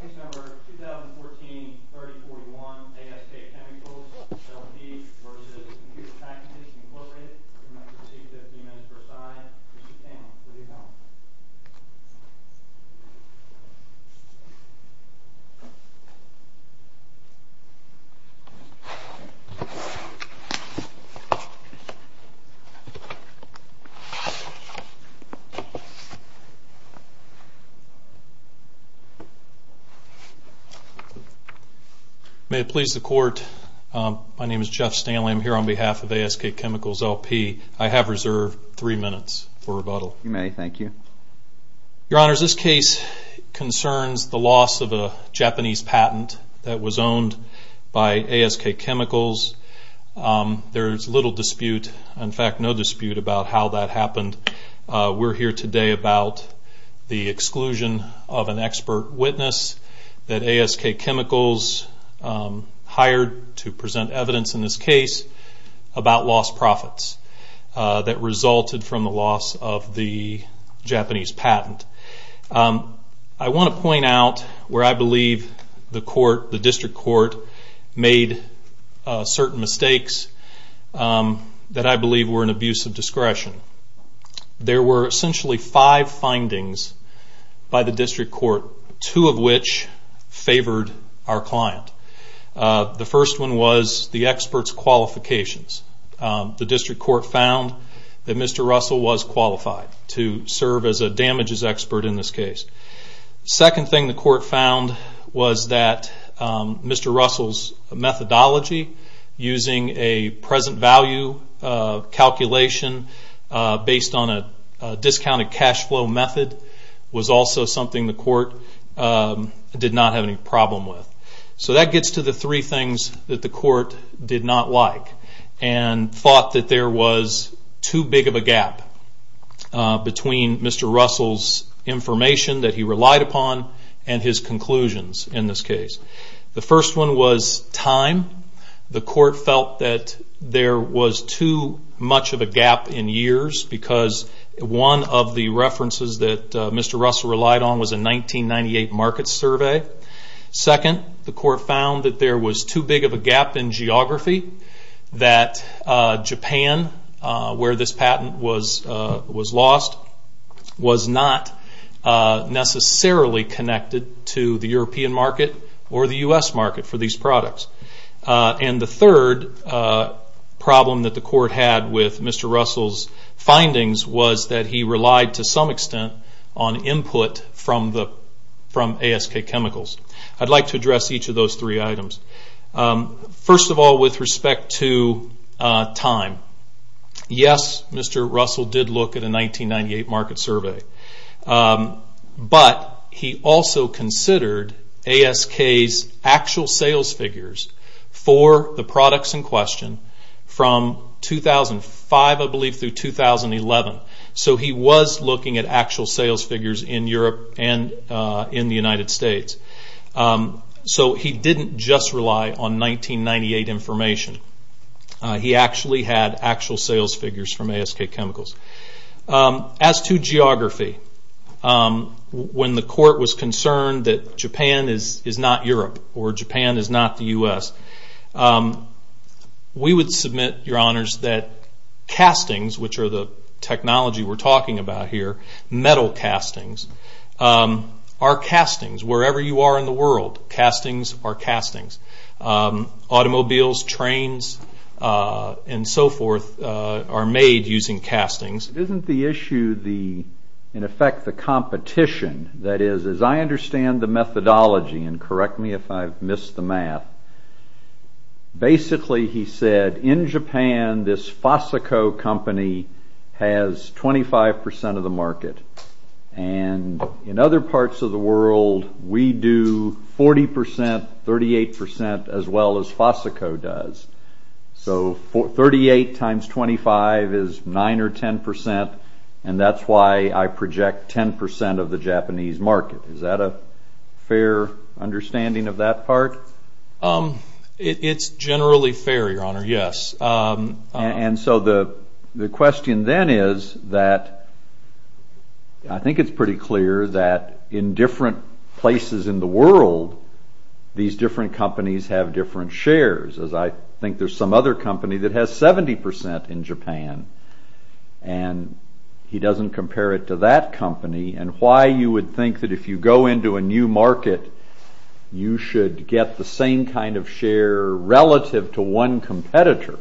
Case number 2014-3041, ASK Chemicals, L&D, v. Computer Packages, Inc. You may proceed to 15 minutes per side. Proceed to panel until you are done. May it please the Court, my name is Jeff Stanley. I'm here on behalf of ASK Chemicals, LP. I have reserved three minutes for rebuttal. You may, thank you. Your Honors, this case concerns the loss of a Japanese patent that was owned by ASK Chemicals. There is little dispute, in fact no dispute, about how that happened. We're here today about the exclusion of an expert witness that ASK Chemicals hired to present evidence in this case about lost profits that resulted from the loss of the Japanese patent. I want to point out where I believe the District Court made certain mistakes that I believe were an abuse of discretion. There were essentially five findings by the District Court, two of which favored our client. The first one was the expert's qualifications. The District Court found that Mr. Russell was qualified to serve as a damages expert in this case. The second thing the Court found was that Mr. Russell's methodology using a present value calculation based on a discounted cash flow method was also something the Court did not have any problem with. So that gets to the three things that the Court did not like and thought that there was too big of a gap between Mr. Russell's information that he relied upon and his conclusions in this case. The first one was time. The Court felt that there was too much of a gap in years because one of the references that Mr. Russell relied on was a 1998 market survey. Second, the Court found that there was too big of a gap in geography that Japan, where this patent was lost, was not necessarily connected to the European market or the U.S. market for these products. And the third problem that the Court had with Mr. Russell's findings was that he relied to some extent on input from ASK Chemicals. I'd like to address each of those three items. First of all, with respect to time, yes, Mr. Russell did look at a 1998 market survey, but he also considered ASK's actual sales figures for the products in question from 2005, I believe, through 2011. So he was looking at actual sales figures in Europe and in the United States. So he didn't just rely on 1998 information. He actually had actual sales figures from ASK Chemicals. As to geography, when the Court was concerned that Japan is not Europe or Japan is not the U.S., we would submit, Your Honors, that castings, which are the technology we're talking about here, metal castings, are castings wherever you are in the world. Automobiles, trains, and so forth are made using castings. Isn't the issue, in effect, the competition? That is, as I understand the methodology, and correct me if I've missed the math, basically, he said, in Japan, this Fosico company has 25 percent of the market. In other parts of the world, we do 40 percent, 38 percent, as well as Fosico does. So 38 times 25 is 9 or 10 percent, and that's why I project 10 percent of the Japanese market. Is that a fair understanding of that part? It's generally fair, Your Honor, yes. And so the question then is that I think it's pretty clear that in different places in the world, these different companies have different shares, as I think there's some other company that has 70 percent in Japan, and he doesn't compare it to that company. And why you would think that if you go into a new market, you should get the same kind of share relative to one competitor.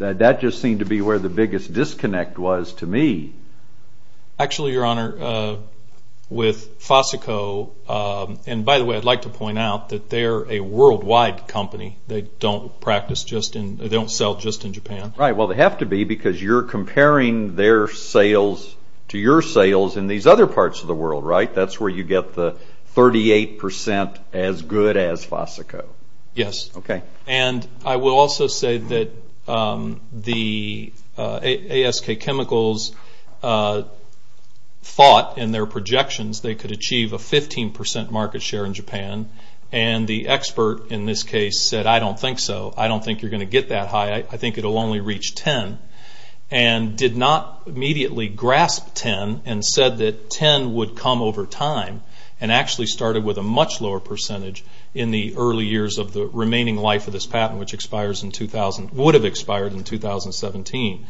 That just seemed to be where the biggest disconnect was to me. Actually, Your Honor, with Fosico, and by the way, I'd like to point out that they're a worldwide company. They don't sell just in Japan. Right. Well, they have to be because you're comparing their sales to your sales in these other parts of the world, right? That's where you get the 38 percent as good as Fosico. Yes. Okay. And I will also say that the ASK Chemicals thought in their projections they could achieve a 15 percent market share in Japan, and the expert in this case said, I don't think so. I don't think you're going to get that high. I think it will only reach 10, and did not immediately grasp 10, and said that 10 would come over time, and actually started with a much lower percentage in the early years of the remaining life of this patent, which would have expired in 2017.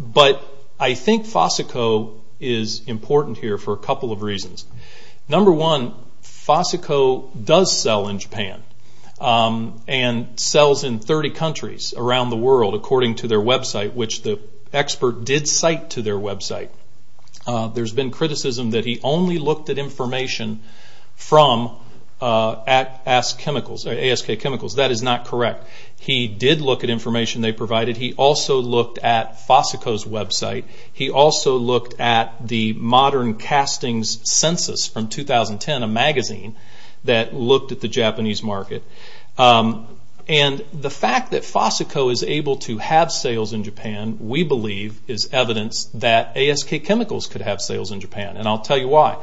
But I think Fosico is important here for a couple of reasons. Number one, Fosico does sell in Japan, and sells in 30 countries around the world according to their website, which the expert did cite to their website. There's been criticism that he only looked at information from ASK Chemicals. That is not correct. He did look at information they provided. He also looked at Fosico's website. He also looked at the Modern Castings Census from 2010, a magazine that looked at the Japanese market. And the fact that Fosico is able to have sales in Japan, we believe, is evidence that ASK Chemicals could have sales in Japan, and I'll tell you why.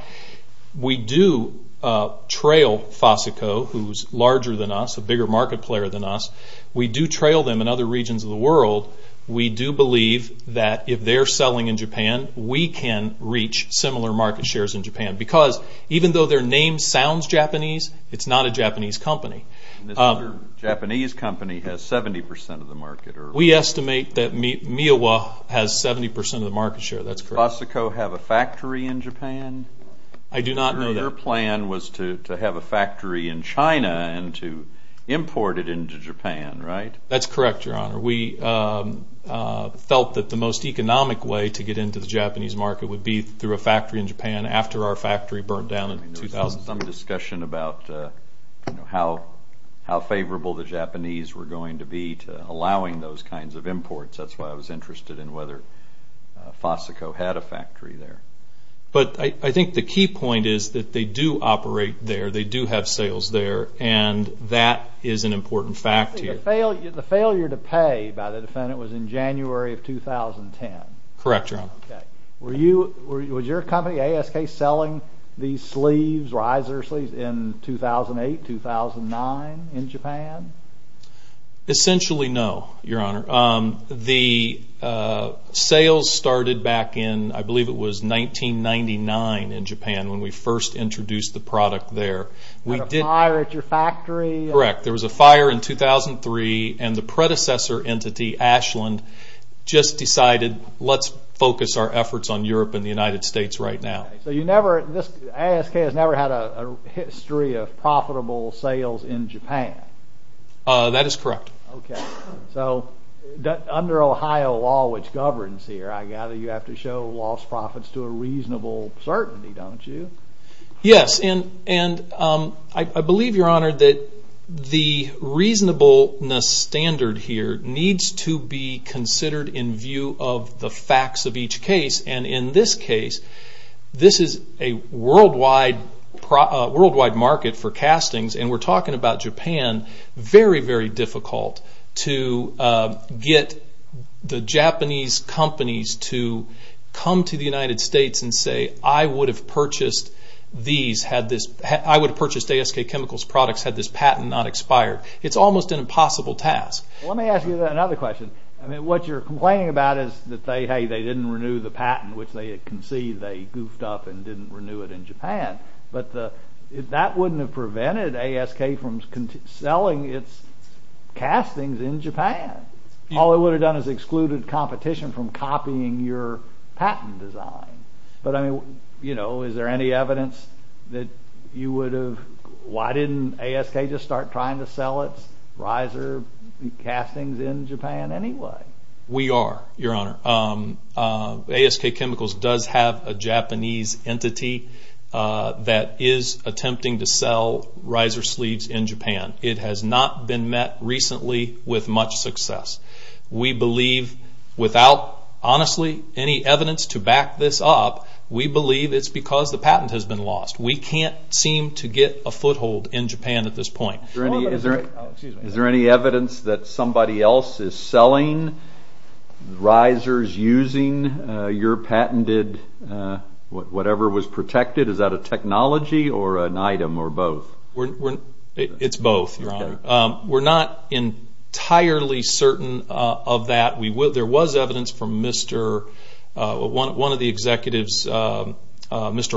We do trail Fosico, who's larger than us, a bigger market player than us. We do trail them in other regions of the world. We do believe that if they're selling in Japan, we can reach similar market shares in Japan. Because even though their name sounds Japanese, it's not a Japanese company. This other Japanese company has 70% of the market. We estimate that Miowa has 70% of the market share. That's correct. Did Fosico have a factory in Japan? I do not know that. Their plan was to have a factory in China and to import it into Japan, right? That's correct, Your Honor. We felt that the most economic way to get into the Japanese market would be through a factory in Japan after our factory burnt down in 2000. There was some discussion about how favorable the Japanese were going to be to allowing those kinds of imports. That's why I was interested in whether Fosico had a factory there. But I think the key point is that they do operate there, they do have sales there, and that is an important fact here. The failure to pay by the defendant was in January of 2010. Correct, Your Honor. Was your company, ASK, selling these sleeves, riser sleeves, in 2008, 2009 in Japan? Essentially, no, Your Honor. The sales started back in, I believe it was 1999 in Japan when we first introduced the product there. There was a fire at your factory? Correct. There was a fire in 2003 and the predecessor entity, Ashland, just decided, let's focus our efforts on Europe and the United States right now. ASK has never had a history of profitable sales in Japan? That is correct. Under Ohio law, which governs here, I gather you have to show lost profits to a reasonable certainty, don't you? Yes. I believe, Your Honor, that the reasonableness standard here needs to be considered in view of the facts of each case. In this case, this is a worldwide market for castings, and we're talking about Japan. It would have been very, very difficult to get the Japanese companies to come to the United States and say, I would have purchased ASK Chemicals products had this patent not expired. It's almost an impossible task. Let me ask you another question. What you're complaining about is that, hey, they didn't renew the patent, which they had conceived, they goofed up and didn't renew it in Japan. That wouldn't have prevented ASK from selling its castings in Japan. All it would have done is excluded competition from copying your patent design. Is there any evidence that you would have... Why didn't ASK just start trying to sell its riser castings in Japan anyway? We are, Your Honor. ASK Chemicals does have a Japanese entity that is attempting to sell riser sleeves in Japan. It has not been met recently with much success. We believe, without, honestly, any evidence to back this up, we believe it's because the patent has been lost. We can't seem to get a foothold in Japan at this point. Is there any evidence that somebody else is selling risers using your patented whatever was protected? Is that a technology or an item or both? It's both, Your Honor. We're not entirely certain of that. There was evidence from one of the executives, Mr.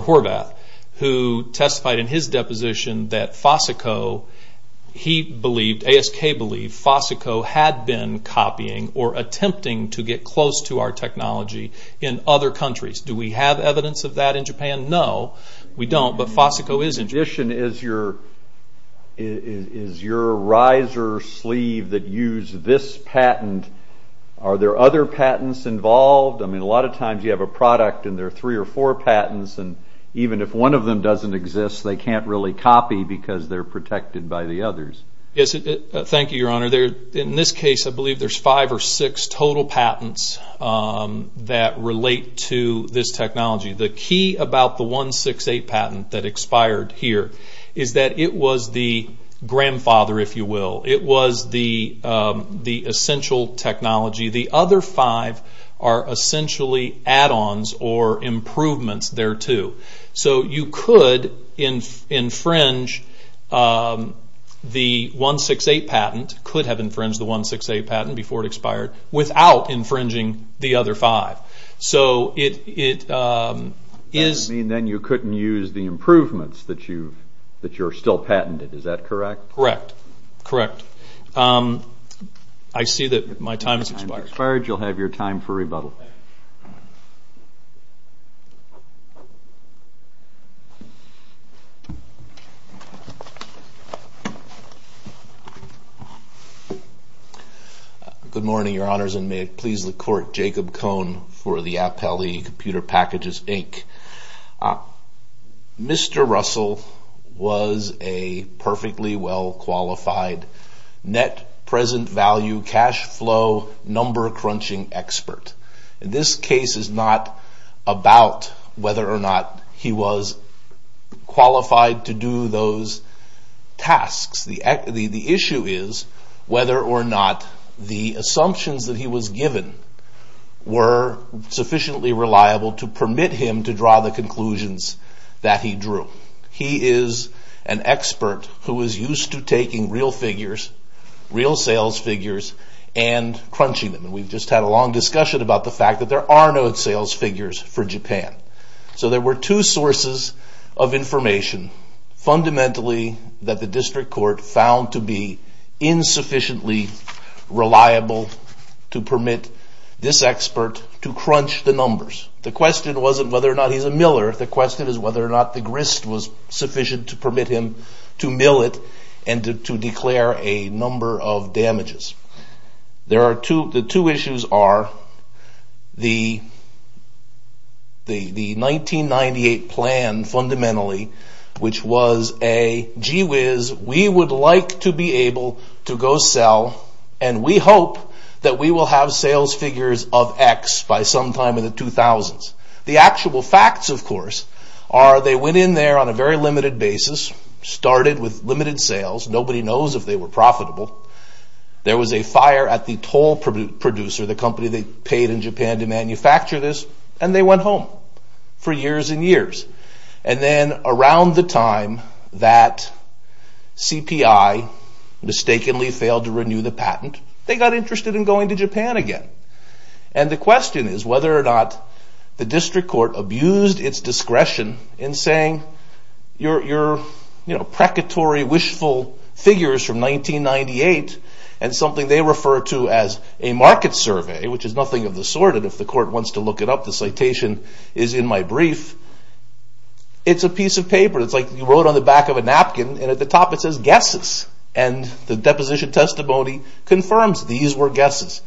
Horvath, who testified in his deposition that Fosico, ASK believed Fosico had been copying or attempting to get close to our technology in other countries. Do we have evidence of that in Japan? No, we don't, but Fosico is in Japan. In addition, is your riser sleeve that used this patent, are there other patents involved? I mean, a lot of times you have a product and there are three or four patents, and even if one of them doesn't exist, they can't really copy because they're protected by the others. Yes, thank you, Your Honor. In this case, I believe there's five or six total patents that relate to this technology. The key about the 168 patent that expired here is that it was the grandfather, if you will. It was the essential technology. The other five are essentially add-ons or improvements thereto. So you could infringe the 168 patent, could have infringed the 168 patent before it expired, without infringing the other five. That would mean then you couldn't use the improvements that you're still patented. Is that correct? Correct. I see that my time has expired. Your time has expired. You'll have your time for rebuttal. Thank you. Good morning, Your Honors, and may it please the Court, Jacob Cohn for the Appellee Computer Packages, Inc. Mr. Russell was a perfectly well-qualified net present value cash flow number crunching expert. This case is not about whether or not he was qualified to do those tasks. The issue is whether or not the assumptions that he was given were sufficiently reliable to permit him to draw the conclusions that he drew. He is an expert who is used to taking real figures, real sales figures, and crunching them. And we've just had a long discussion about the fact that there are no sales figures for Japan. So there were two sources of information fundamentally that the District Court found to be The question wasn't whether or not he's a miller. The question is whether or not the grist was sufficient to permit him to mill it and to declare a number of damages. The two issues are the 1998 plan fundamentally, which was a gee whiz, we would like to be able to go sell, and we hope that we will have sales figures of X by sometime in the 2000s. The actual facts, of course, are they went in there on a very limited basis, started with limited sales. Nobody knows if they were profitable. There was a fire at the toll producer, the company that paid in Japan to manufacture this, and they went home for years and years. And then around the time that CPI mistakenly failed to renew the patent, they got interested in going to Japan again. And the question is whether or not the District Court abused its discretion in saying, your, you know, precatory wishful figures from 1998, and something they refer to as a market survey, which is nothing of the sort, and if the court wants to look it up, the citation is in my brief. It's a piece of paper, it's like you wrote on the back of a napkin, and at the top it says guesses. And the deposition testimony confirms these were guesses.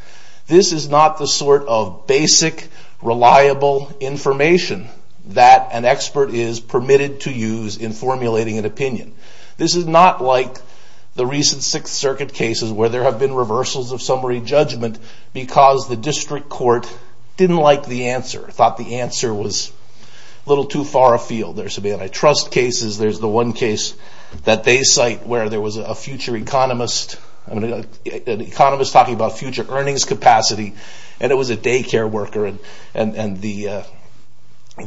This is not the sort of basic, reliable information that an expert is permitted to use in formulating an opinion. This is not like the recent Sixth Circuit cases where there have been reversals of summary judgment because the District Court didn't like the answer, thought the answer was a little too far afield. There's some antitrust cases. There's the one case that they cite where there was a future economist, an economist talking about future earnings capacity, and it was a daycare worker. And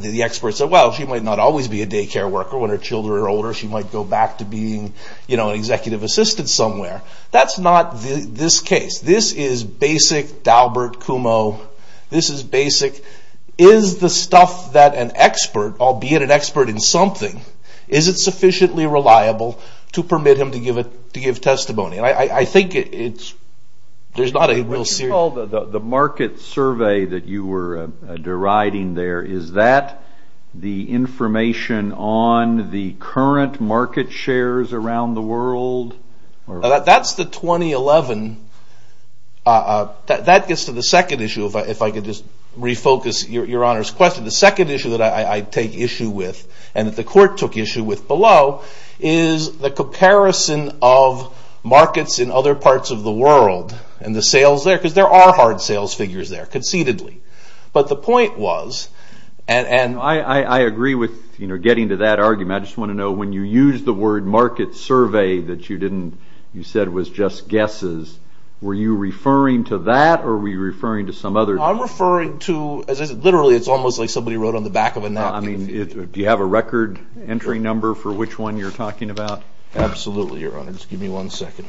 the expert said, well, she might not always be a daycare worker when her children are older. She might go back to being, you know, an executive assistant somewhere. That's not this case. This is basic Daubert-Cumo. This is basic. Is the stuff that an expert, albeit an expert in something, is it sufficiently reliable to permit him to give testimony? I think there's not a real serious... What you call the market survey that you were deriding there, is that the information on the current market shares around the world? That's the 2011... That gets to the second issue, if I could just refocus Your Honor's question. The second issue that I take issue with, and that the court took issue with below, is the comparison of markets in other parts of the world and the sales there, because there are hard sales figures there, concededly. But the point was... I agree with getting to that argument. I just want to know, when you used the word market survey that you said was just guesses, were you referring to that or were you referring to some other... I'm referring to... Literally, it's almost like somebody wrote on the back of a napkin. Do you have a record entry number for which one you're talking about? Absolutely, Your Honor. Just give me one second.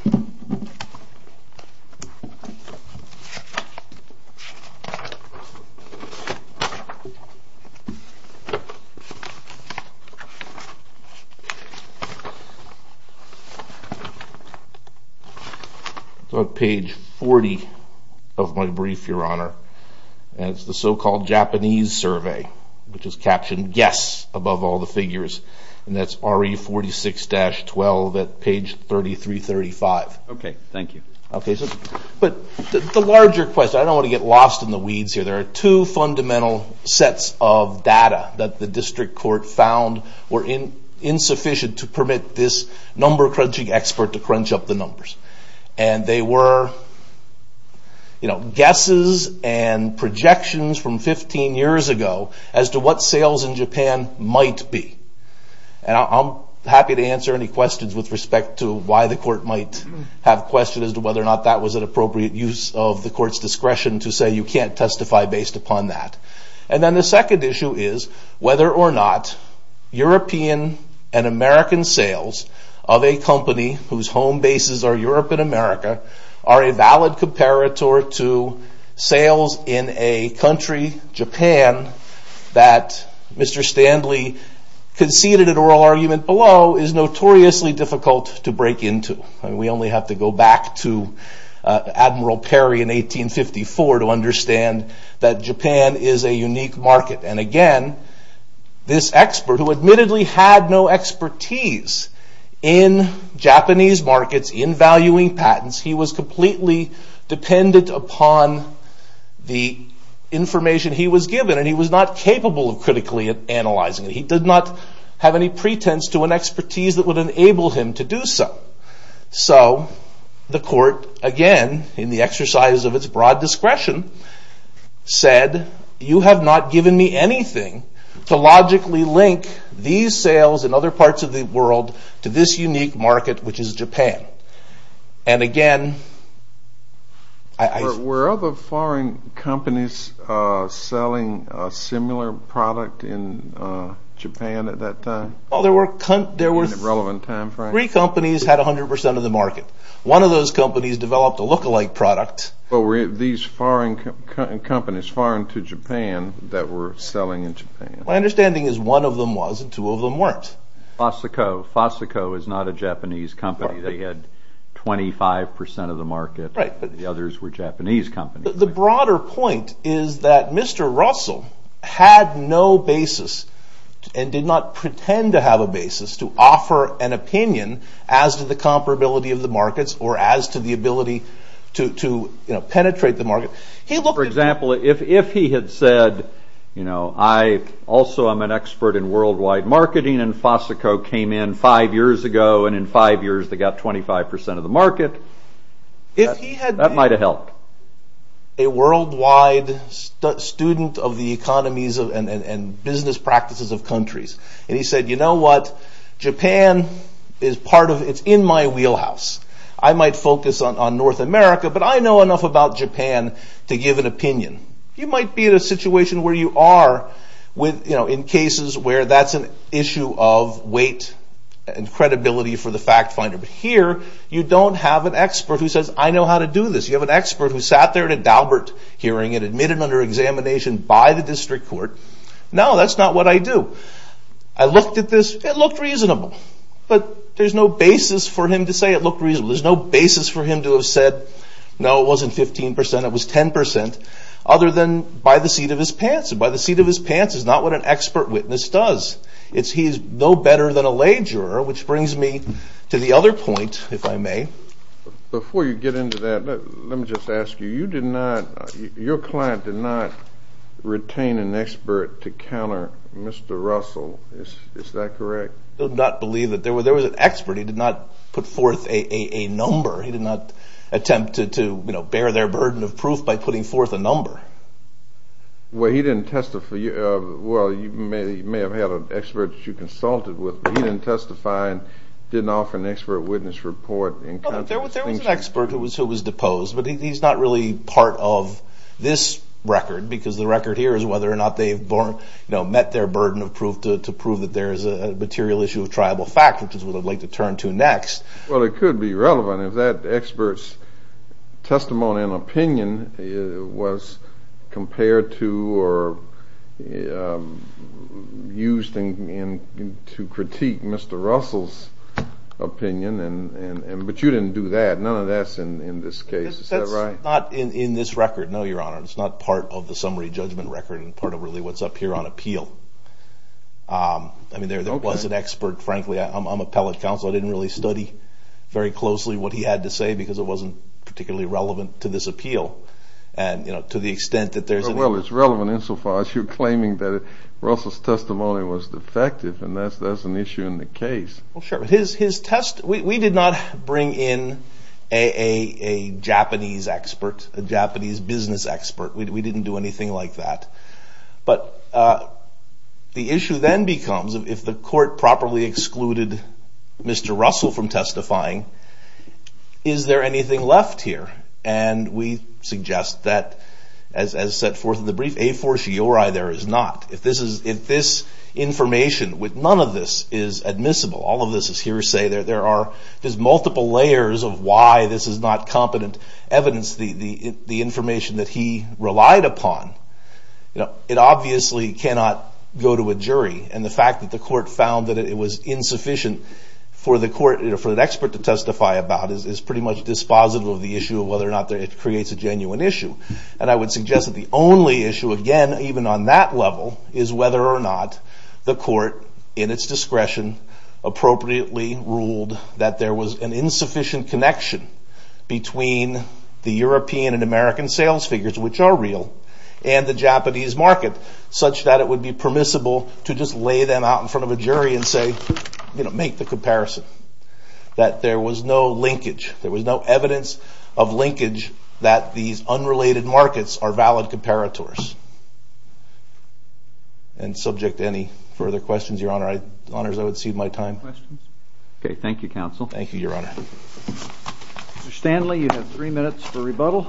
It's on page 40 of my brief, Your Honor. It's the so-called Japanese survey, which is captioned, Yes, above all the figures. And that's RE 46-12 at page 3335. Okay, thank you. Okay, but the larger question, I don't want to get lost in the weeds here. There are two fundamental sets of data that the district court found were insufficient to permit this number-crunching expert to crunch up the numbers. And they were guesses and projections from 15 years ago as to what sales in Japan might be. And I'm happy to answer any questions with respect to why the court might have questions as to whether or not that was an appropriate use of the court's discretion to say you can't testify based upon that. And then the second issue is whether or not European and American sales of a company whose home bases are Europe and America are a valid comparator to sales in a country, Japan, that Mr. Standley conceded an oral argument below is notoriously difficult to break into. We only have to go back to Admiral Perry in 1854 to understand that Japan is a unique market. And again, this expert, who admittedly had no expertise in Japanese markets, in valuing patents, he was completely dependent upon the information he was given. And he was not capable of critically analyzing it. He did not have any pretense to an expertise that would enable him to do so. So the court, again, in the exercise of its broad discretion, said you have not given me anything to logically link these sales in other parts of the world to this unique market, which is Japan. And again, I... Were other foreign companies selling a similar product in Japan at that time? Well, there were... In a relevant time frame? Three companies had 100% of the market. One of those companies developed a look-alike product. But were these foreign companies, foreign to Japan, that were selling in Japan? My understanding is one of them was and two of them weren't. Fosico. Fosico is not a Japanese company. They had 25% of the market. The others were Japanese companies. The broader point is that Mr. Russell had no basis and did not pretend to have a basis to offer an opinion as to the comparability of the markets or as to the ability to penetrate the market. He looked at... For example, if he had said, you know, I also am an expert in worldwide marketing and Fosico came in five years ago and in five years they got 25% of the market. If he had... That might have helped. A worldwide student of the economies and business practices of countries. And he said, you know what, Japan is part of... It's in my wheelhouse. I might focus on North America, but I know enough about Japan to give an opinion. You might be in a situation where you are with, you know, in cases where that's an issue of weight and credibility for the fact finder. But here you don't have an expert who says, I know how to do this. You have an expert who sat there at a Daubert hearing and admitted under examination by the district court. No, that's not what I do. I looked at this. It looked reasonable. But there's no basis for him to say it looked reasonable. There's no basis for him to have said, no, it wasn't 15%. It was 10% other than by the seat of his pants. And by the seat of his pants is not what an expert witness does. It's he's no better than a lay juror, which brings me to the other point, if I may. Before you get into that, let me just ask you. You did not, your client did not retain an expert to counter Mr. Russell. Is that correct? I do not believe that. There was an expert. He did not put forth a number. He did not attempt to, you know, bear their burden of proof by putting forth a number. Well, he didn't testify. Well, you may have had an expert that you consulted with, but he didn't testify and didn't offer an expert witness report. There was an expert who was deposed, but he's not really part of this record because the record here is whether or not they've met their burden of proof to prove that there is a material issue of tribal fact, which is what I'd like to turn to next. Well, it could be relevant if that expert's testimony and opinion was compared to or used to critique Mr. Russell's opinion, but you didn't do that. None of that's in this case. Is that right? That's not in this record, no, Your Honor. It's not part of the summary judgment record and part of really what's up here on appeal. I mean, there was an expert. Frankly, I'm appellate counsel. I didn't really study very closely what he had to say because it wasn't particularly relevant to this appeal, to the extent that there's an issue. Well, it's relevant insofar as you're claiming that Russell's testimony was defective, and that's an issue in the case. Well, sure. We did not bring in a Japanese expert, a Japanese business expert. We didn't do anything like that. But the issue then becomes if the court properly excluded Mr. Russell from testifying, is there anything left here? And we suggest that, as set forth in the brief, a fortiori there is not. If this information with none of this is admissible, all of this is hearsay, there's multiple layers of why this is not competent evidence, the information that he relied upon, it obviously cannot go to a jury. And the fact that the court found that it was insufficient for an expert to testify about is pretty much dispositive of the issue of whether or not it creates a genuine issue. And I would suggest that the only issue, again, even on that level, is whether or not the court, in its discretion, appropriately ruled that there was an insufficient connection between the European and American sales figures, which are real, and the Japanese market, such that it would be permissible to just lay them out in front of a jury and say, you know, make the comparison. That there was no linkage, there was no evidence of linkage that these unrelated markets are valid comparators. And subject to any further questions, Your Honor, I would cede my time. Okay, thank you, Counsel. Thank you, Your Honor. Mr. Stanley, you have three minutes for rebuttal.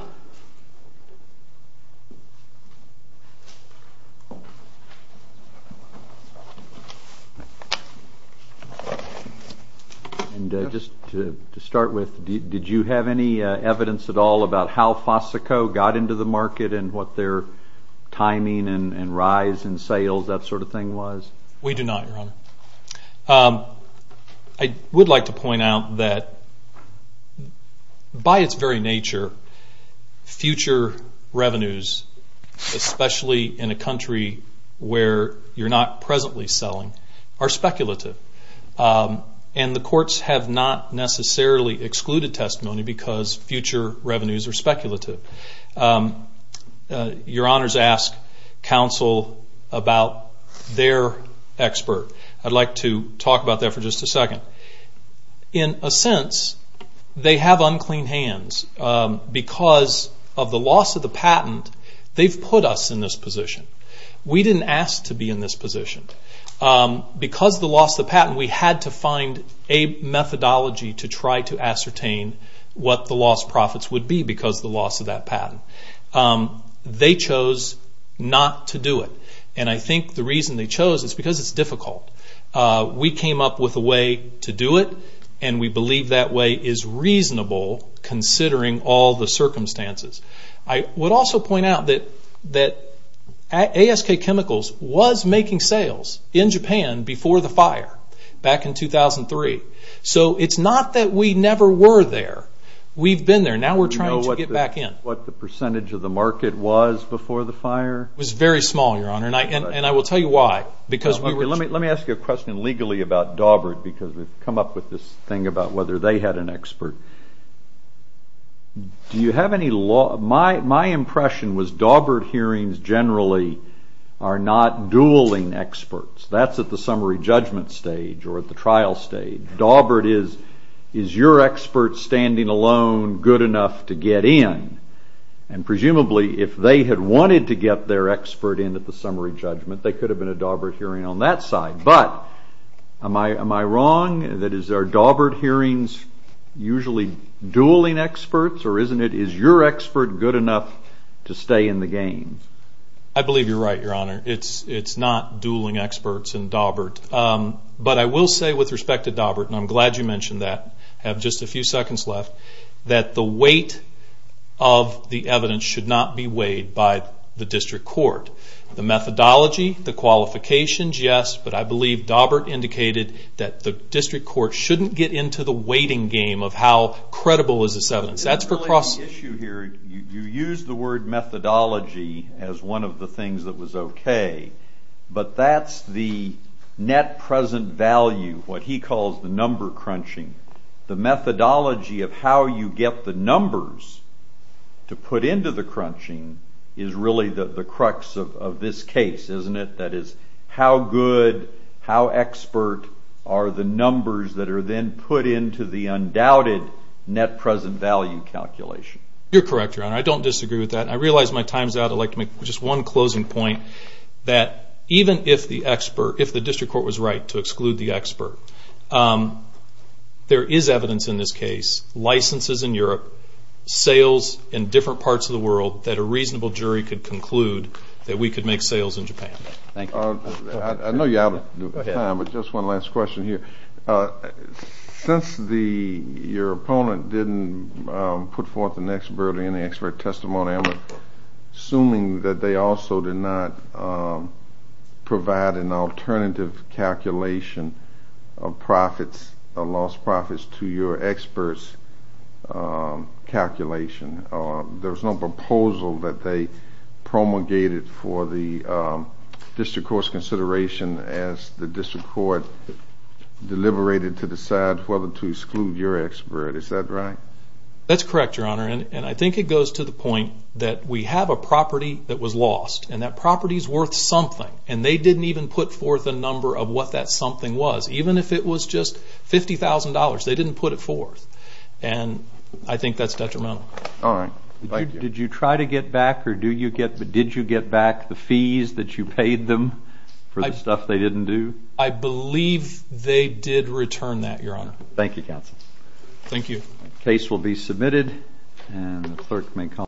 And just to start with, did you have any evidence at all about how Fosico got into the market and what their timing and rise in sales, that sort of thing, was? We do not, Your Honor. I would like to point out that by its very nature, future revenues, especially in a country where you're not presently selling, are speculative. And the courts have not necessarily excluded testimony because future revenues are speculative. Your Honors ask Counsel about their expert. I'd like to talk about that for just a second. In a sense, they have unclean hands. Because of the loss of the patent, they've put us in this position. We didn't ask to be in this position. Because of the loss of the patent, we had to find a methodology to try to ascertain what the lost profits would be because of the loss of that patent. They chose not to do it. And I think the reason they chose is because it's difficult. We came up with a way to do it, and we believe that way is reasonable considering all the circumstances. I would also point out that ASK Chemicals was making sales in Japan before the fire back in 2003. So it's not that we never were there. We've been there. Now we're trying to get back in. Do you know what the percentage of the market was before the fire? It was very small, Your Honor, and I will tell you why. Let me ask you a question legally about Dawbert because we've come up with this thing about whether they had an expert. Do you have any law? My impression was Dawbert hearings generally are not dueling experts. That's at the summary judgment stage or at the trial stage. Dawbert is, is your expert standing alone good enough to get in? And presumably if they had wanted to get their expert in at the summary judgment, they could have been a Dawbert hearing on that side. But am I wrong? That is, are Dawbert hearings usually dueling experts or is your expert good enough to stay in the game? I believe you're right, Your Honor. It's not dueling experts in Dawbert. But I will say with respect to Dawbert, and I'm glad you mentioned that, I have just a few seconds left, that the weight of the evidence should not be weighed by the district court. The methodology, the qualifications, yes, but I believe Dawbert indicated that the district court shouldn't get into the weighting game of how credible is this evidence. You use the word methodology as one of the things that was okay, but that's the net present value, what he calls the number crunching. The methodology of how you get the numbers to put into the crunching is really the crux of this case, isn't it? That is, how good, how expert are the numbers that are then put into the undoubted net present value calculation? You're correct, Your Honor. I don't disagree with that. I realize my time's out. I'd like to make just one closing point, that even if the district court was right to exclude the expert, there is evidence in this case, licenses in Europe, sales in different parts of the world, that a reasonable jury could conclude that we could make sales in Japan. Thank you. I know you're out of time, but just one last question here. Since your opponent didn't put forth an expert or any expert testimony, I'm assuming that they also did not provide an alternative calculation of profits, lost profits, to your expert's calculation. There's no proposal that they promulgated for the district court's consideration as the district court deliberated to decide whether to exclude your expert. Is that right? That's correct, Your Honor. I think it goes to the point that we have a property that was lost, and that property's worth something, and they didn't even put forth a number of what that something was. Even if it was just $50,000, they didn't put it forth. And I think that's detrimental. All right. Thank you. Did you try to get back, or did you get back the fees that you paid them for the stuff they didn't do? I believe they did return that, Your Honor. Thank you, counsel. The case will be submitted, and the clerk may call the roll.